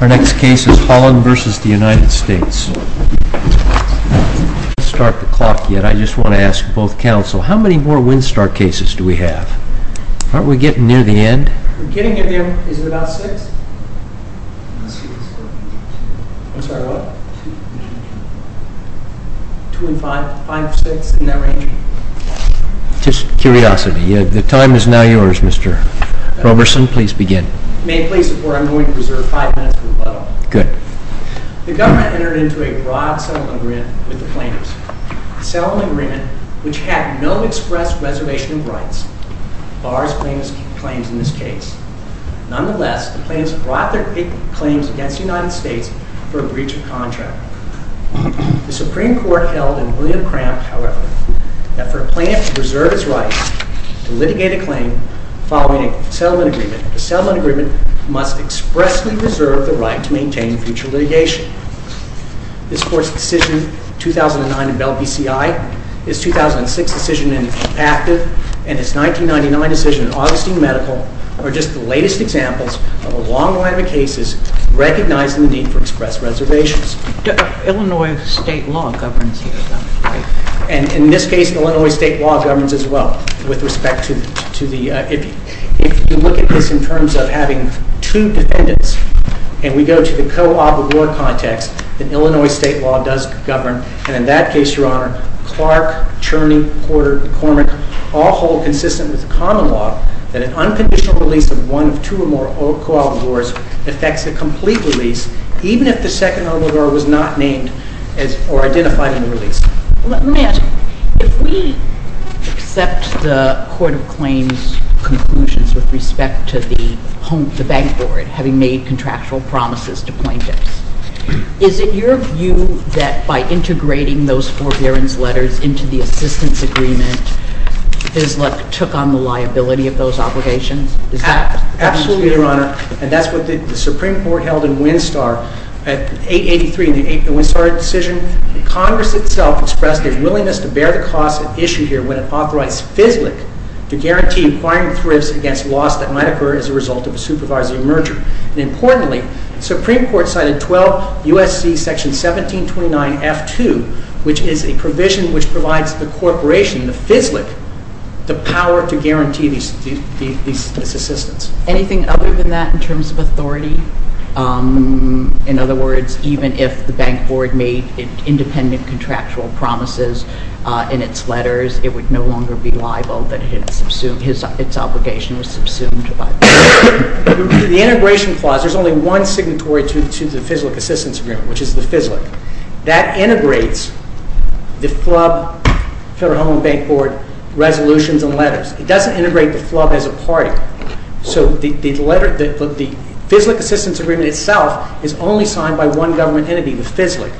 Our next case is HOLLAND v. United States. I won't start the clock yet, I just want to ask both counsel, how many more WinStar cases do we have? Aren't we getting near the end? We're getting near the end. Is it about six? I'm sorry, what? Two and five? Five or six? In that range? Just curiosity. The time is now yours, Mr. Roberson. Please begin. May it please the Court, I'm going to reserve five minutes for rebuttal. Good. The government entered into a broad settlement agreement with the plaintiffs, a settlement agreement which had no express reservation of rights, bars claims in this case. Nonetheless, the plaintiffs brought their claims against the United States for a breach of contract. The Supreme Court held in William Cramp, however, that for a plaintiff to preserve his rights, to litigate a claim following a settlement agreement, the settlement agreement must expressly reserve the right to maintain future litigation. This Court's decision 2009 in Bell v. CI, its 2006 decision in Active, and its 1999 decision in Augustine Medical are just the latest examples of a long line of cases recognizing the need for express reservations. Illinois state law governs here. And in this case, Illinois state law governs as well with respect to the IPI. If you look at this in terms of having two defendants, and we go to the co-obligor context, then Illinois state law does govern. And in that case, Your Honor, Clark, Cherney, Porter, and Cormick all hold consistent with the common law that an unconditional release of one of two or more co-obligors affects a complete release, even if the second co-obligor was not named or identified in the release. Let me ask you, if we accept the Court of Claims' conclusions with respect to the bank board having made contractual promises to plaintiffs, is it your view that by integrating those forbearance letters into the assistance agreement, FISLA took on the liability of those obligations? Absolutely, Your Honor. And that's what the Supreme Court held in Winstar at 883 in the Winstar decision. Congress itself expressed a willingness to bear the cost at issue here when it authorized FISLIC to guarantee acquiring thrifts against loss that might occur as a result of a supervisory merger. And importantly, the Supreme Court cited 12 U.S.C. section 1729 F2, which is a provision which provides the corporation, the FISLIC, the power to guarantee this assistance. Anything other than that in terms of authority? In other words, even if the bank board made independent contractual promises in its letters, it would no longer be liable that its obligation was subsumed by the bank board? The integration clause, there's only one signatory to the FISLIC assistance agreement, which is the FISLIC. That integrates the FLUB, Federal Home and Bank Board, resolutions and letters. It doesn't integrate the FLUB as a party. So the FISLIC assistance agreement itself is only signed by one government entity, the FISLIC.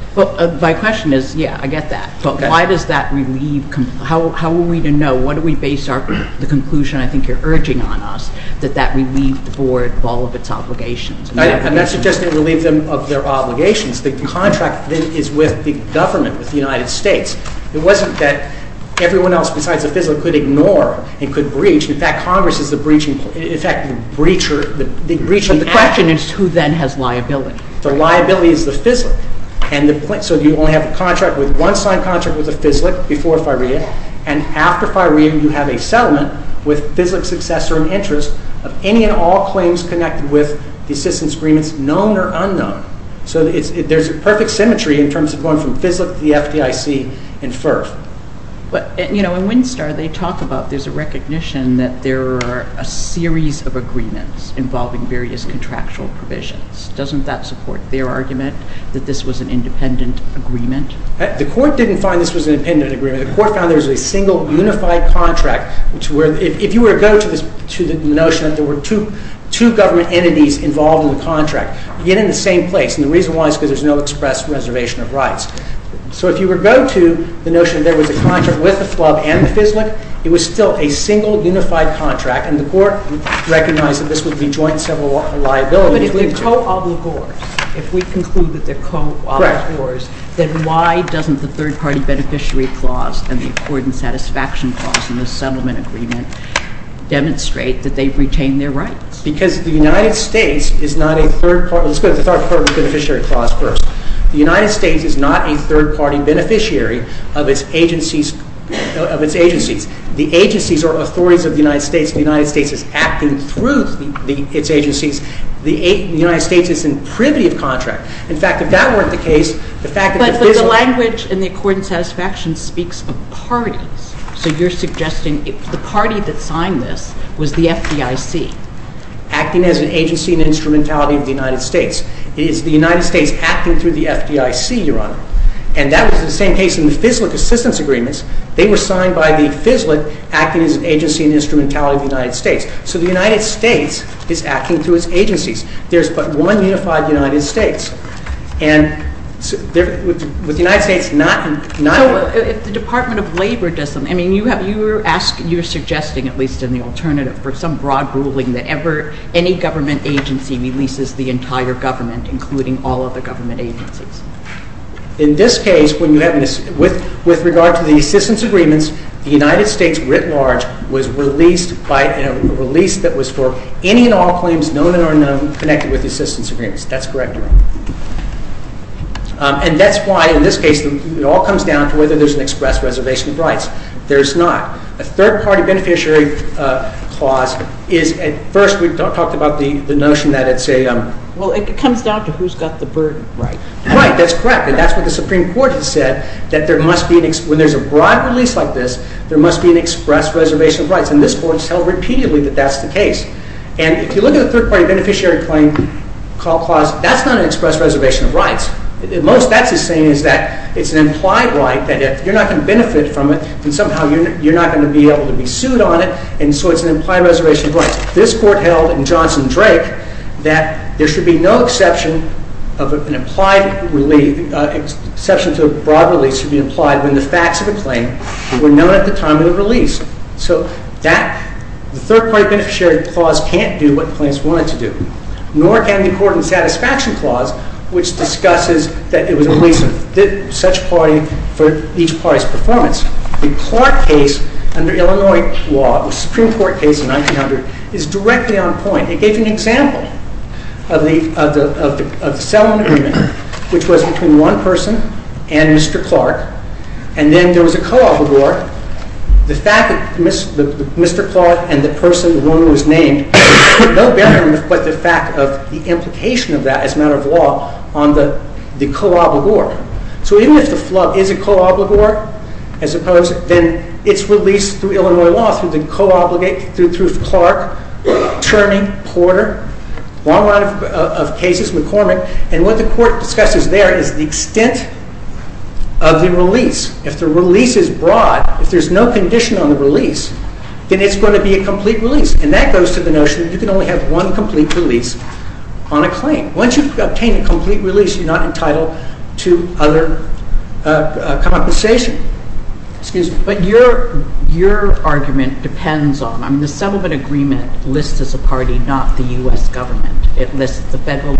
My question is, yeah, I get that. But why does that relieve, how are we to know, what do we base the conclusion I think you're urging on us, that that relieved the board of all of its obligations? And that's just to relieve them of their obligations. The contract is with the government, with the United States. It wasn't that everyone else besides the FISLIC could ignore and could breach. In fact, Congress is the breacher. But the question is, who then has liability? The liability is the FISLIC. So you only have one signed contract with the FISLIC before FIREA, and after FIREA you have a settlement with FISLIC's successor in interest of any and all claims connected with the assistance agreements, known or unknown. So there's a perfect symmetry in terms of going from FISLIC to the FDIC and FIRF. But, you know, in WinSTAR they talk about there's a recognition that there are a series of agreements involving various contractual provisions. Doesn't that support their argument that this was an independent agreement? The court didn't find this was an independent agreement. The court found there was a single unified contract, which if you were to go to the notion that there were two government entities involved in the contract, you get in the same place. And the reason why is because there's no express reservation of rights. So if you were to go to the notion that there was a contract with the FLUB and the FISLIC, it was still a single unified contract, and the court recognized that this would be joint several liabilities. But if they're co-obligors, if we conclude that they're co-obligors, then why doesn't the third party beneficiary clause and the accord and satisfaction clause in the settlement agreement demonstrate that they've retained their rights? Because the United States is not a third party. Let's go to the third party beneficiary clause first. The United States is not a third party beneficiary of its agencies. The agencies are authorities of the United States. The United States is acting through its agencies. The United States is in privity of contract. In fact, if that weren't the case, the fact that the FISLIC... But the language in the accord and satisfaction speaks of parties. So you're suggesting the party that signed this was the FDIC. Acting as an agency and instrumentality of the United States. It is the United States acting through the FDIC, Your Honor. And that was the same case in the FISLIC assistance agreements. They were signed by the FISLIC acting as an agency and instrumentality of the United States. So the United States is acting through its agencies. There's but one unified United States. And with the United States not... So if the Department of Labor does something... I mean, you're suggesting, at least in the alternative, for some broad ruling that any government agency releases the entire government, including all of the government agencies. In this case, when you have... With regard to the assistance agreements, the United States, writ large, was released by... A release that was for any and all claims known and unknown connected with the assistance agreements. That's correct, Your Honor. And that's why, in this case, it all comes down to whether there's an express reservation of rights. There's not. A third-party beneficiary clause is... First, we talked about the notion that it's a... Well, it comes down to who's got the burden. Right, that's correct. And that's what the Supreme Court has said, that there must be... When there's a broad release like this, there must be an express reservation of rights. And this Court has held repeatedly that that's the case. And if you look at the third-party beneficiary claim clause, that's not an express reservation of rights. At most, that's just saying that it's an implied right, that if you're not going to benefit from it, then somehow you're not going to be able to be sued on it. And so it's an implied reservation of rights. This Court held in Johnson-Drake that there should be no exception to a broad release should be implied when the facts of a claim were known at the time of the release. So the third-party beneficiary clause can't do what the plaintiffs want it to do. Nor can the Accord and Satisfaction Clause, which discusses that it was a release of such party for each party's performance. The Clark case under Illinois law, the Supreme Court case in 1900, is directly on point. It gave an example of the settlement agreement, which was between one person and Mr. Clark. And then there was a co-obligor. The fact that Mr. Clark and the person, the woman, was named put no bearing on the fact of the implication of that as a matter of law on the co-obligor. So even if the flaw is a co-obligor, as opposed, then it's released through Illinois law through the co-obligate, through Clark, Turney, Porter, a long line of cases, McCormick. And what the Court discusses there is the extent of the release. If the release is broad, if there's no condition on the release, then it's going to be a complete release. And that goes to the notion that you can only have one complete release on a claim. Once you've obtained a complete release, you're not entitled to other compensation. Excuse me. But your argument depends on... I mean, the settlement agreement lists as a party, not the U.S. government. It lists the federal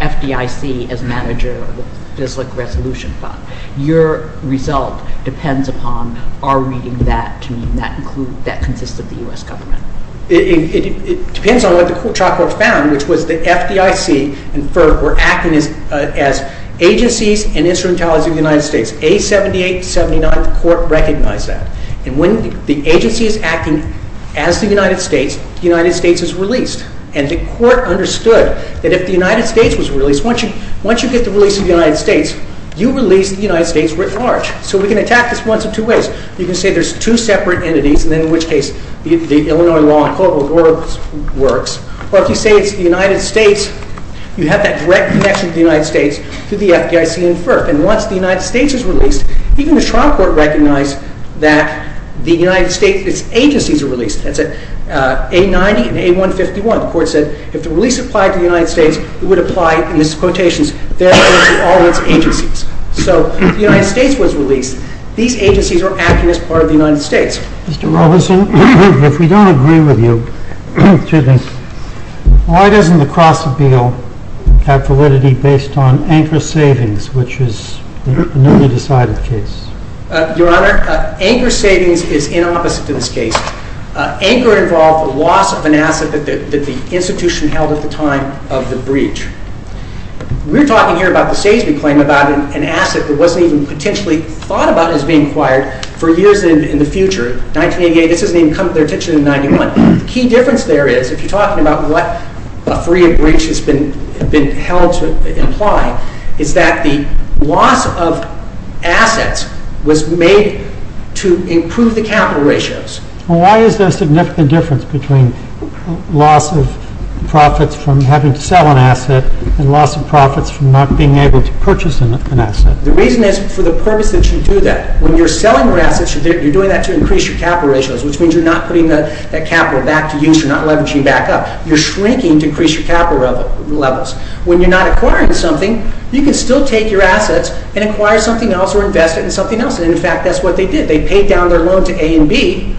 FDIC as manager of the Fislich Resolution Fund. Your result depends upon our reading of that to mean that consists of the U.S. government. It depends on what the Court of Trial Court found, which was the FDIC and FERC were acting as agencies and instrumentalities of the United States. A78-79, the Court recognized that. And when the agency is acting as the United States, the United States is released. And the Court understood that if the United States was released, once you get the release of the United States, you release the United States writ large. So we can attack this one of two ways. You can say there's two separate entities, in which case the Illinois law works. Or if you say it's the United States, you have that direct connection to the United States, to the FDIC and FERC. And once the United States is released, even the trial court recognized that the United States, its agencies are released. That's A90 and A151. The Court said if the release applied to the United States, it would apply, and this is quotations, their release to all its agencies. So if the United States was released, these agencies are acting as part of the United States. Mr. Robinson, if we don't agree with you, why doesn't the Cross Appeal have validity based on anchor savings, which is a newly decided case? Your Honor, anchor savings is inopposite to this case. Anchor involved the loss of an asset that the institution held at the time of the breach. We're talking here about the savings claim, about an asset that wasn't even potentially thought about as being acquired for years in the future. 1988, this isn't even coming to their attention in 1991. The key difference there is, if you're talking about what a free of breach has been held to imply, is that the loss of assets was made to improve the capital ratios. Well, why is there a significant difference between loss of profits from having to sell an asset and loss of profits from not being able to purchase an asset? The reason is for the purpose that you do that. When you're selling your assets, you're doing that to increase your capital ratios, which means you're not putting that capital back to use. You're not leveraging back up. You're shrinking to increase your capital levels. When you're not acquiring something, you can still take your assets and acquire something else or invest it in something else. And, in fact, that's what they did. They paid down their loan to A and B,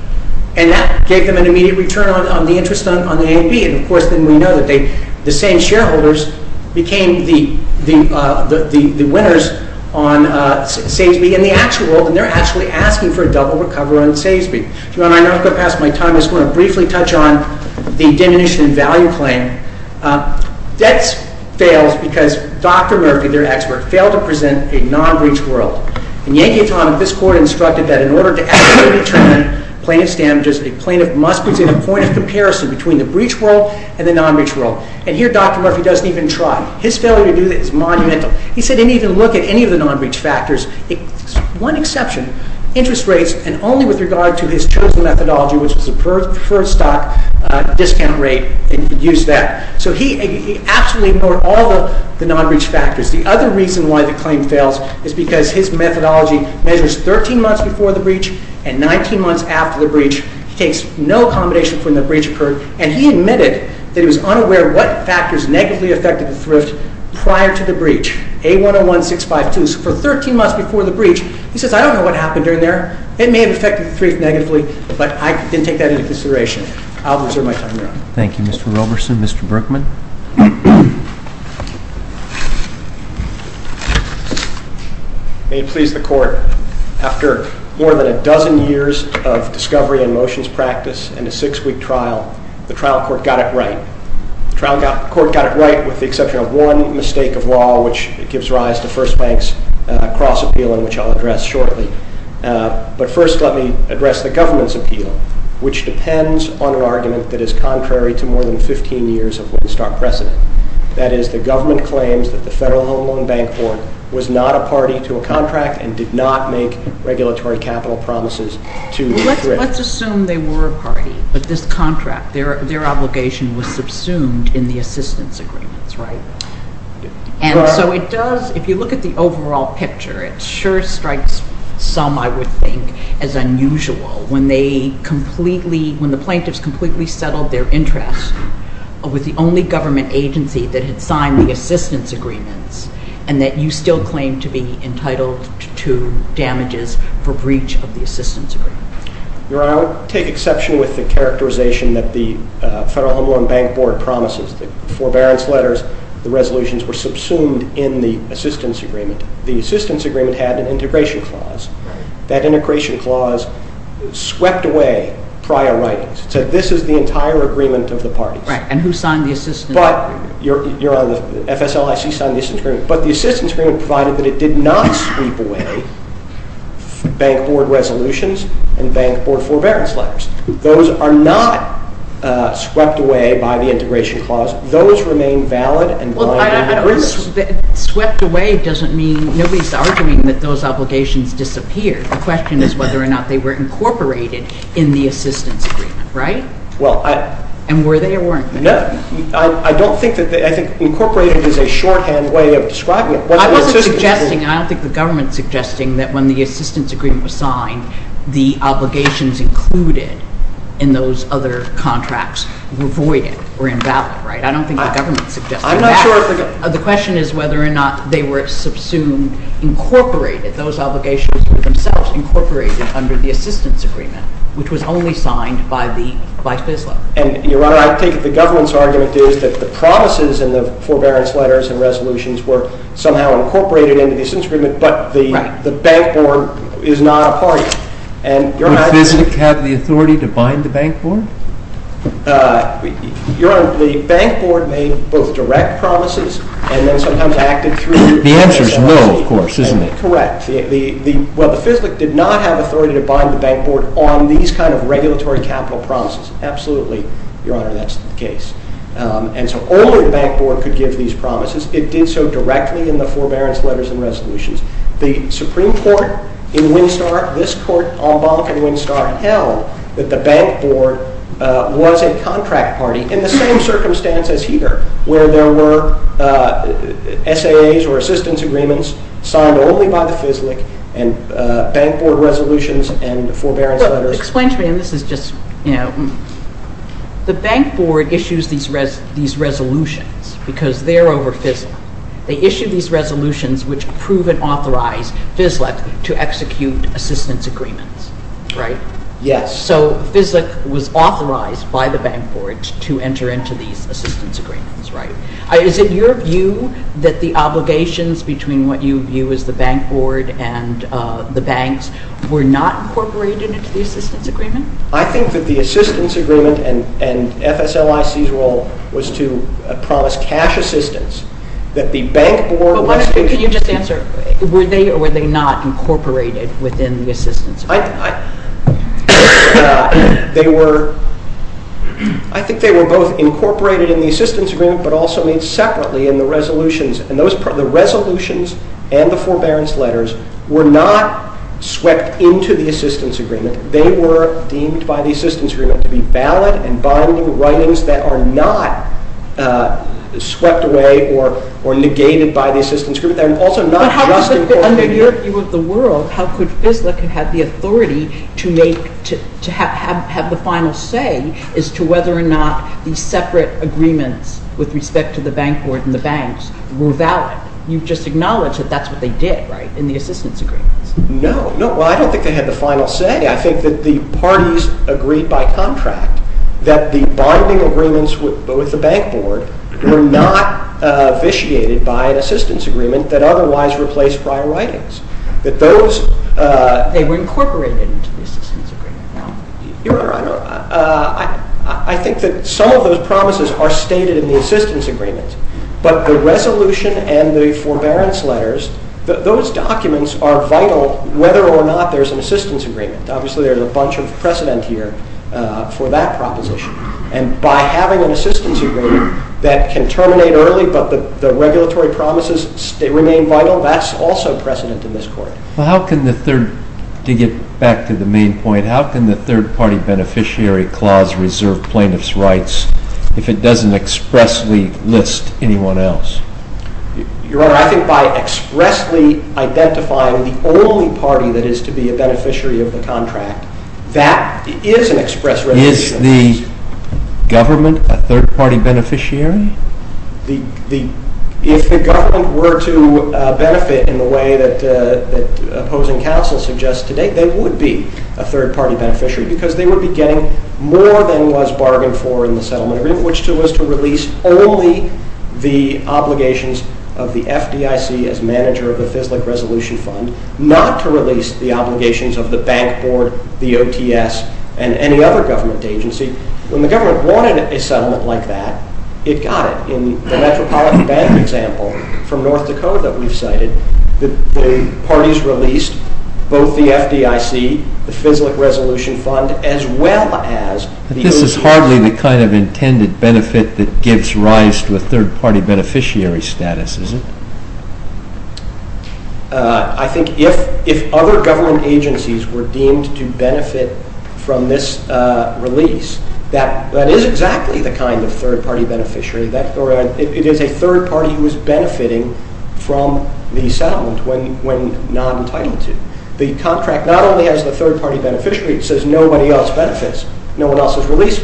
and that gave them an immediate return on the interest on A and B. And, of course, then we know that the same shareholders became the winners on Saves Me in the actual world, and they're actually asking for a double recovery on Saves Me. Your Honor, I know I've gone past my time. I just want to briefly touch on the diminishing value claim. Debt fails because Dr. Murphy, their expert, failed to present a non-breach world. In Yankee Atomic, this court instructed that in order to accurately determine plaintiff's damages, a plaintiff must present a point of comparison between the breach world and the non-breach world. And here Dr. Murphy doesn't even try. His failure to do that is monumental. He said he didn't even look at any of the non-breach factors. One exception, interest rates, and only with regard to his chosen methodology, which was a preferred stock discount rate, and used that. So he absolutely ignored all of the non-breach factors. The other reason why the claim fails is because his methodology measures 13 months before the breach and 19 months after the breach. He takes no accommodation for when the breach occurred, and he admitted that he was unaware of what factors negatively affected the thrift prior to the breach. A-101-652. So for 13 months before the breach, he says, I don't know what happened during there. It may have affected the thrift negatively, but I didn't take that into consideration. I'll reserve my time here. Thank you, Mr. Roberson. Mr. Brookman. May it please the court, after more than a dozen years of discovery in motions practice and a six-week trial, the trial court got it right. The trial court got it right with the exception of one mistake of law, which gives rise to First Bank's cross-appeal and one which I'll address shortly. But first let me address the government's appeal, which depends on an argument that is contrary to more than 15 years of Woodstock precedent. That is, the government claims that the Federal Home Loan Bank Board was not a party to a contract and did not make regulatory capital promises to the thrift. Let's assume they were a party, but this contract, their obligation was subsumed in the assistance agreements, right? And so it does, if you look at the overall picture, it sure strikes some, I would think, as unusual when the plaintiffs completely settled their interest with the only government agency that had signed the assistance agreements and that you still claim to be entitled to damages for breach of the assistance agreement. Your Honor, I would take exception with the characterization that the Federal Home Loan Bank Board promises, the forbearance letters, the resolutions, were subsumed in the assistance agreement. The assistance agreement had an integration clause. That integration clause swept away prior writings. It said, this is the entire agreement of the parties. Right, and who signed the assistance agreement? Your Honor, the FSLIC signed the assistance agreement, but the assistance agreement provided that it did not sweep away bank board resolutions and bank board forbearance letters. Those are not swept away by the integration clause. Those remain valid and blind agreements. Well, swept away doesn't mean, nobody's arguing that those obligations disappeared. The question is whether or not they were incorporated in the assistance agreement, right? Well, I... And were they or weren't they? No, I don't think that they, I think incorporated is a shorthand way of describing it. I wasn't suggesting, and I don't think the government's suggesting, that when the assistance agreement was signed, the obligations included in those other contracts were voided, were invalid, right? I don't think the government suggested that. I'm not sure if the... The question is whether or not they were subsumed, incorporated, those obligations were themselves incorporated under the assistance agreement, which was only signed by the, by FSLIC. And, Your Honor, I take it the government's argument is that the promises in the forbearance letters and resolutions were somehow incorporated into the assistance agreement, but the bank board is not a party. And, Your Honor... Would FSLIC have the authority to bind the bank board? Your Honor, the bank board made both direct promises and then sometimes acted through... The answer is no, of course, isn't it? Correct. Well, the FSLIC did not have authority to bind the bank board on these kind of regulatory capital promises. Absolutely, Your Honor, that's the case. And so only the bank board could give these promises. It did so directly in the forbearance letters and resolutions. The Supreme Court in Winstar, this Court en banc in Winstar, held that the bank board was a contract party in the same circumstance as here, where there were SAAs or assistance agreements signed only by the FSLIC and bank board resolutions and forbearance letters... Well, explain to me, and this is just, you know... The bank board issues these resolutions because they're over FSLIC. They issue these resolutions which prove and authorize FSLIC to execute assistance agreements, right? Yes. So FSLIC was authorized by the bank board to enter into these assistance agreements, right? Is it your view that the obligations between what you view as the bank board and the banks were not incorporated into the assistance agreement? I think that the assistance agreement and FSLIC's role was to promise cash assistance that the bank board... But can you just answer, were they or were they not incorporated within the assistance agreement? I think they were both incorporated in the assistance agreement but also made separately in the resolutions, and the resolutions and the forbearance letters were not swept into the assistance agreement. They were deemed by the assistance agreement to be valid and bind to writings that are not swept away or negated by the assistance agreement. They were also not just incorporated... But how could, under your view of the world, how could FSLIC have the authority to make, to have the final say as to whether or not these separate agreements with respect to the bank board and the banks were valid? You've just acknowledged that that's what they did, right, in the assistance agreements. No. Well, I don't think they had the final say. I think that the parties agreed by contract that the binding agreements with both the bank board were not vitiated by an assistance agreement that otherwise replaced prior writings. That those... They were incorporated into the assistance agreement. Your Honor, I think that some of those promises are stated in the assistance agreement but the resolution and the forbearance letters, those documents are vital whether or not there's an assistance agreement. Obviously, there's a bunch of precedent here for that proposition. And by having an assistance agreement that can terminate early but the regulatory promises remain vital, that's also precedent in this Court. Well, how can the third... To get back to the main point, how can the Third Party Beneficiary Clause reserve plaintiff's rights if it doesn't expressly list anyone else? Your Honor, I think by expressly identifying the only party that is to be a beneficiary of the contract, that is an express resolution. Is the government a third party beneficiary? If the government were to benefit in the way that opposing counsel suggests today, they would be a third party beneficiary because they would be getting more than was bargained for in the settlement agreement, which was to release only the obligations of the FDIC as manager of the FISLIC Resolution Fund, not to release the obligations of the Bank Board, the OTS, and any other government agency. When the government wanted a settlement like that, it got it. In the Metropolitan Bank example from North Dakota we've cited, the parties released both the FDIC, the FISLIC Resolution Fund, as well as... But this is hardly the kind of intended benefit that gives rise to a third party beneficiary status, is it? I think if other government agencies were deemed to benefit from this release, that is exactly the kind of third party beneficiary. It is a third party who is benefiting from the settlement when not entitled to. The contract not only has the third party beneficiary, it says nobody else benefits, no one else is released.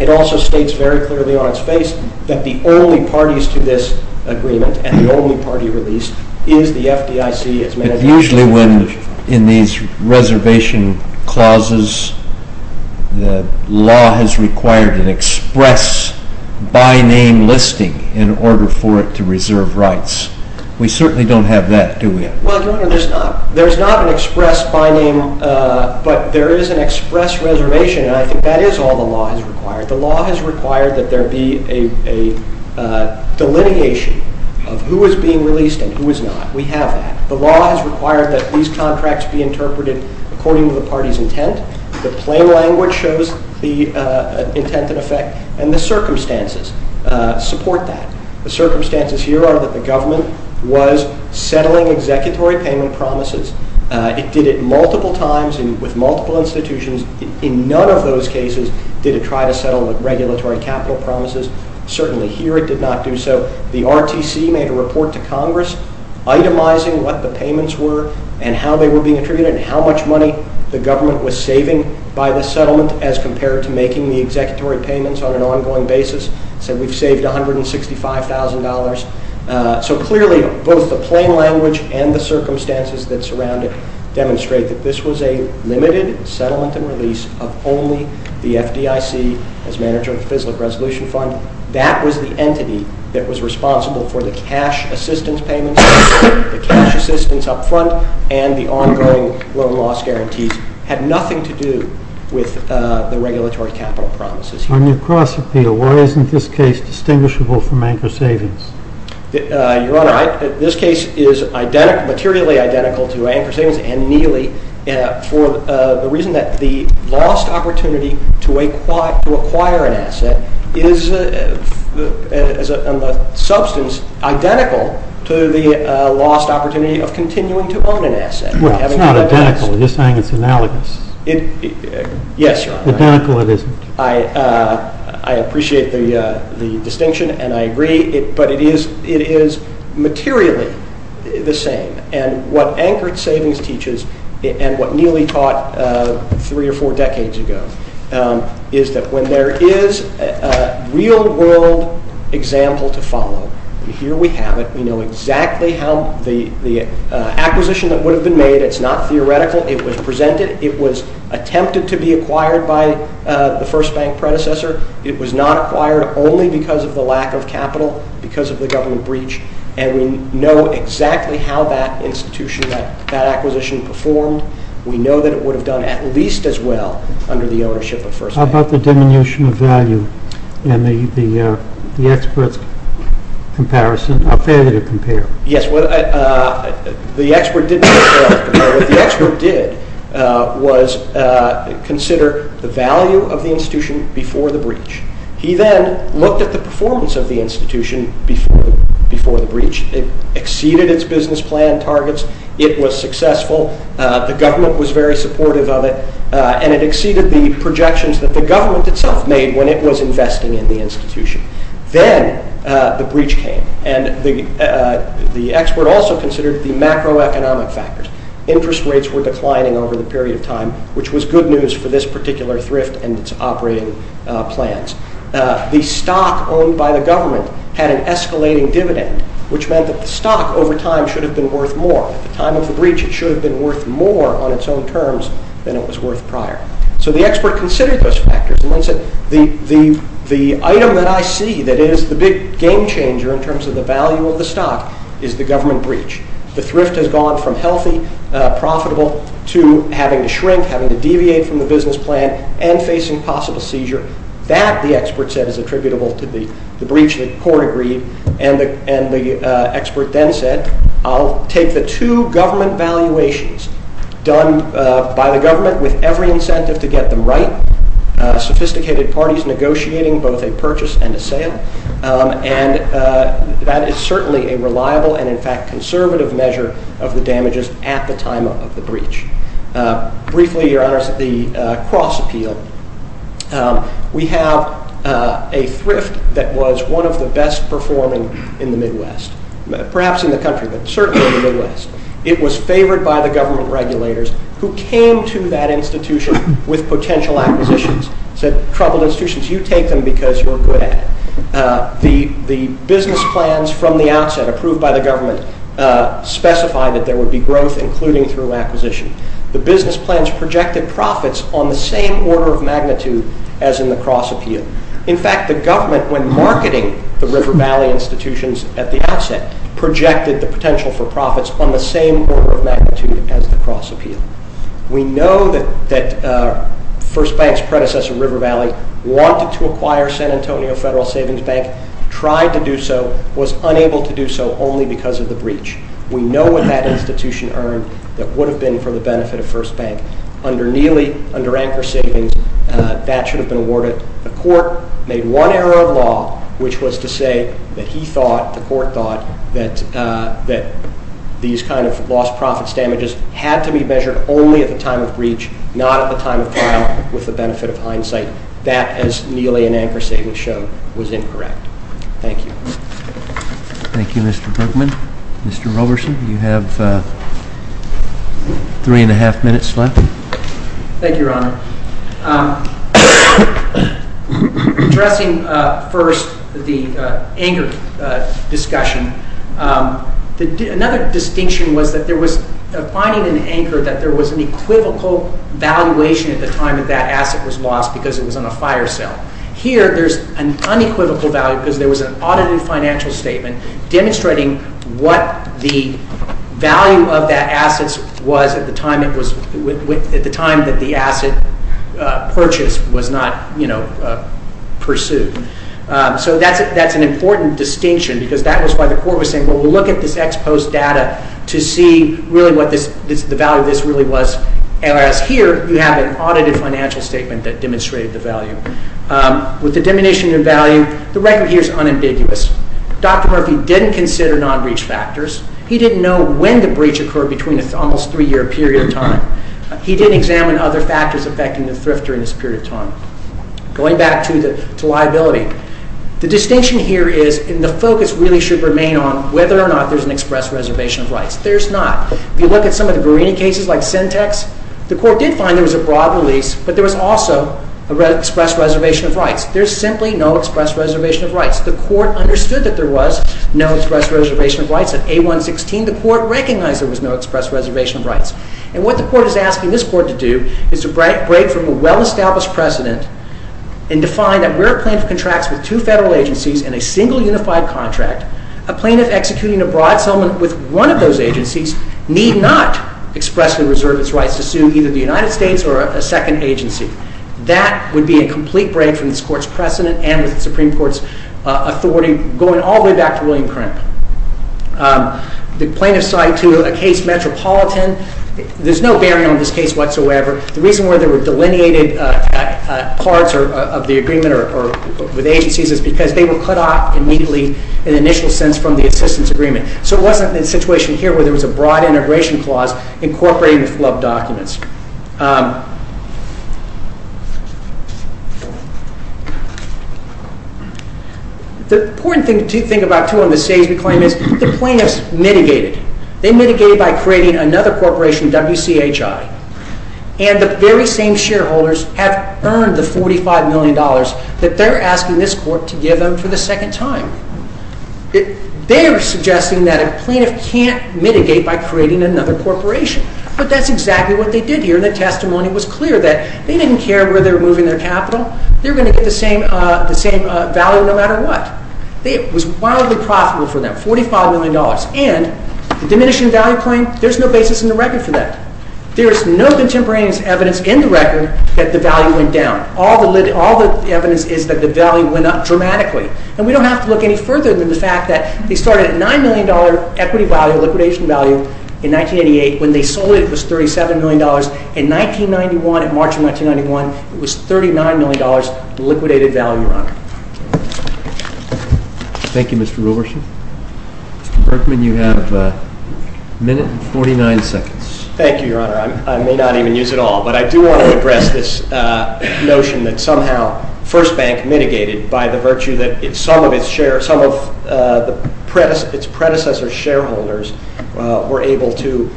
It also states very clearly on its face that the only parties to this agreement and the only party released is the FDIC as manager... But usually when in these reservation clauses the law has required an express by name listing in order for it to reserve rights. We certainly don't have that, do we? Well, Your Honor, there's not an express by name, but there is an express reservation and I think that is all the law has required. The law has required that there be a delineation of who is being released and who is not. We have that. The law has required that these contracts be interpreted according to the party's intent. The plain language shows the intent and effect and the circumstances support that. The circumstances here are that the government was settling executory payment promises. It did it multiple times with multiple institutions. In none of those cases did it try to settle with regulatory capital promises. Certainly here it did not do so. The RTC made a report to Congress itemizing what the payments were and how they were being attributed and how much money the government was saving by the settlement as compared to making the executory payments on an ongoing basis. It said we've saved $165,000. So clearly both the plain language and the circumstances that surround it demonstrate that this was a limited settlement and release of only the FDIC as manager of the FISLIC Resolution Fund. That was the entity that was responsible for the cash assistance payments. The cash assistance up front and the ongoing loan loss guarantees had nothing to do with the regulatory capital promises. On your cross-appeal, why isn't this case distinguishable from anchor savings? Your Honor, this case is materially identical to anchor savings and Neely for the reason that the lost opportunity to acquire an asset is, in the substance, identical to the lost opportunity of continuing to own an asset. It's not identical. You're saying it's analogous. Yes, Your Honor. Identical it isn't. I appreciate the distinction and I agree, but it is materially the same. And what anchored savings teaches and what Neely taught three or four decades ago is that when there is a real world example to follow, here we have it. We know exactly how the acquisition that would have been made. It's not theoretical. It was presented. It was attempted to be acquired by the first bank predecessor. It was not acquired only because of the lack of capital, because of the government breach, and we know exactly how that institution, that acquisition performed. We know that it would have done at least as well under the ownership of the first bank. How about the diminution of value and the expert's comparison? How fair did it compare? Yes, the expert did not compare. What the expert did was consider the value of the institution before the breach. He then looked at the performance of the institution before the breach. It exceeded its business plan targets. It was successful. The government was very supportive of it, and it exceeded the projections that the government itself made when it was investing in the institution. Then the breach came, and the expert also considered the macroeconomic factors. Interest rates were declining over the period of time, which was good news for this particular thrift and its operating plans. The stock owned by the government had an escalating dividend, which meant that the stock over time should have been worth more. At the time of the breach, it should have been worth more on its own terms than it was worth prior. So the expert considered those factors. The item that I see that is the big game changer in terms of the value of the stock is the government breach. The thrift has gone from healthy, profitable, to having to shrink, having to deviate from the business plan, and facing possible seizure. That, the expert said, is attributable to the breach. The court agreed, and the expert then said, I'll take the two government valuations done by the government with every incentive to get them right, sophisticated parties negotiating both a purchase and a sale, and that is certainly a reliable of the damages at the time of the breach. Briefly, Your Honors, as the cross appeal, we have a thrift that was one of the best performing in the Midwest, perhaps in the country, but certainly in the Midwest. It was favored by the government regulators who came to that institution with potential acquisitions, said troubled institutions, you take them because you're good at it. The business plans from the outset approved by the government specified that there would be growth, including through acquisition. The business plans projected profits on the same order of magnitude as in the cross appeal. In fact, the government, when marketing the River Valley institutions at the outset, projected the potential for profits on the same order of magnitude as the cross appeal. We know that First Bank's predecessor, River Valley, wanted to acquire San Antonio Federal Savings Bank, tried to do so, was unable to do so only because of the breach. We know what that institution earned that would have been for the benefit of First Bank. Under Neely, under Anchor Savings, that should have been awarded. The court made one error of law, which was to say that he thought, the court thought, that these kind of lost profits damages had to be measured only at the time of breach, not at the time of trial, with the benefit of hindsight. That, as Neely and Anchor Savings showed, was incorrect. Thank you. Thank you, Mr. Bookman. Mr. Roberson, you have three and a half minutes left. Thank you, Your Honor. Addressing first the Anchor discussion, another distinction was that there was, finding in Anchor, that there was an equivocal valuation at the time that that asset was lost because it was on a fire sale. Here, there's an unequivocal value because there was an audited financial statement demonstrating what the value of that asset was at the time it was, at the time that the asset purchase was not, you know, pursued. So that's an important distinction because that was why the court was saying, well, we'll look at this ex post data to see really what this, the value of this really was. Whereas here, you have an audited financial statement that demonstrated the value. With the diminution of value, the record here is unambiguous. Dr. Murphy didn't consider non-breach factors. He didn't know when the breach occurred between an almost three-year period of time. He didn't examine other factors affecting the thrift during this period of time. Going back to liability, the distinction here is, and the focus really should remain on whether or not there's an express reservation of rights. There's not. If you look at some of the Verini cases, like Syntex, the court did find there was a broad release, but there was also an express reservation of rights. There's simply no express reservation of rights. The court understood that there was no express reservation of rights. At A116, the court recognized there was no express reservation of rights. And what the court is asking this court to do is to break from a well-established precedent and define that where a plaintiff contracts with two federal agencies in a single unified contract, a plaintiff executing a broad settlement with one of those agencies need not expressly reserve its rights to sue either the United States or a second agency. That would be a complete break from this court's precedent and with the Supreme Court's authority going all the way back to William Crimp. The plaintiff's side to a case metropolitan, there's no bearing on this case whatsoever. The reason why there were delineated parts of the agreement with agencies is because they were cut off immediately in the initial sense from the assistance agreement. So it wasn't a situation here where there was a broad integration clause incorporating the FLUB documents. The important thing to think about, too, on the savings reclaim is the plaintiff's mitigated. They mitigated by creating another corporation, WCHI, and the very same shareholders have earned the $45 million that they're asking this court to give them for the second time. They're suggesting that a plaintiff but that's exactly what they do. They're asking the court to give them the $45 million that they did here. The testimony was clear that they didn't care where they were moving their capital. They were going to get the same value no matter what. It was wildly profitable for them, $45 million. And the diminishing value claim, there's no basis in the record for that. There's no contemporaneous evidence in the record that the value went down. All the evidence is that the value went up dramatically. And we don't have to look any further than the fact that they started at $9 million equity value, liquidation value in 1988. When they sold it, it was $37 million. In 1991, in March of 1991, it was $39 million liquidated value, Your Honor. Thank you, Mr. Ruleborsch. Mr. Bergman, you have a minute and 49 seconds. Thank you, Your Honor. I may not even use it all, but I do want to address this notion that somehow First Bank mitigated by the virtue that some of its share, some of its predecessor shareholders were able to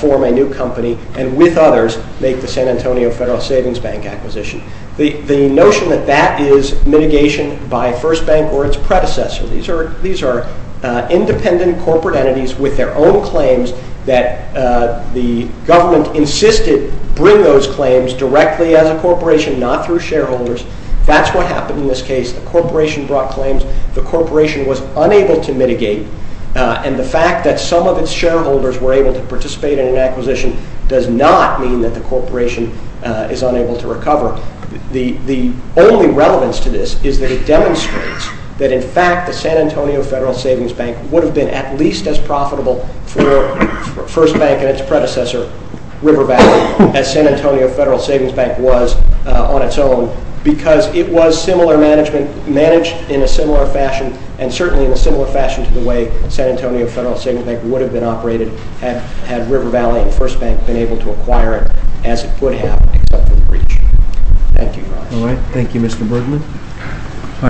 form a new company and with others make the San Antonio Federal Savings Bank acquisition. The notion that that is mitigation by First Bank or its predecessor. These are independent corporate entities with their own claims that the government insisted bring those claims directly as a corporation, not through shareholders. The corporation brought claims. The corporation was unable to mitigate. And the fact that some of its shareholders were able to participate in an acquisition does not mean that the corporation is unable to recover. The only relevance to this is that it demonstrates that in fact the San Antonio Federal Savings Bank would have been at least as profitable for First Bank and its predecessor, River Valley, as San Antonio Federal Savings Bank was on its own because it was similar management, managed in a similar fashion and certainly in a similar fashion to the way San Antonio Federal Savings Bank would have been operated had River Valley and First Bank been able to acquire it as it would have except for the breach. Thank you. All right. Thank you, Mr. Bergman.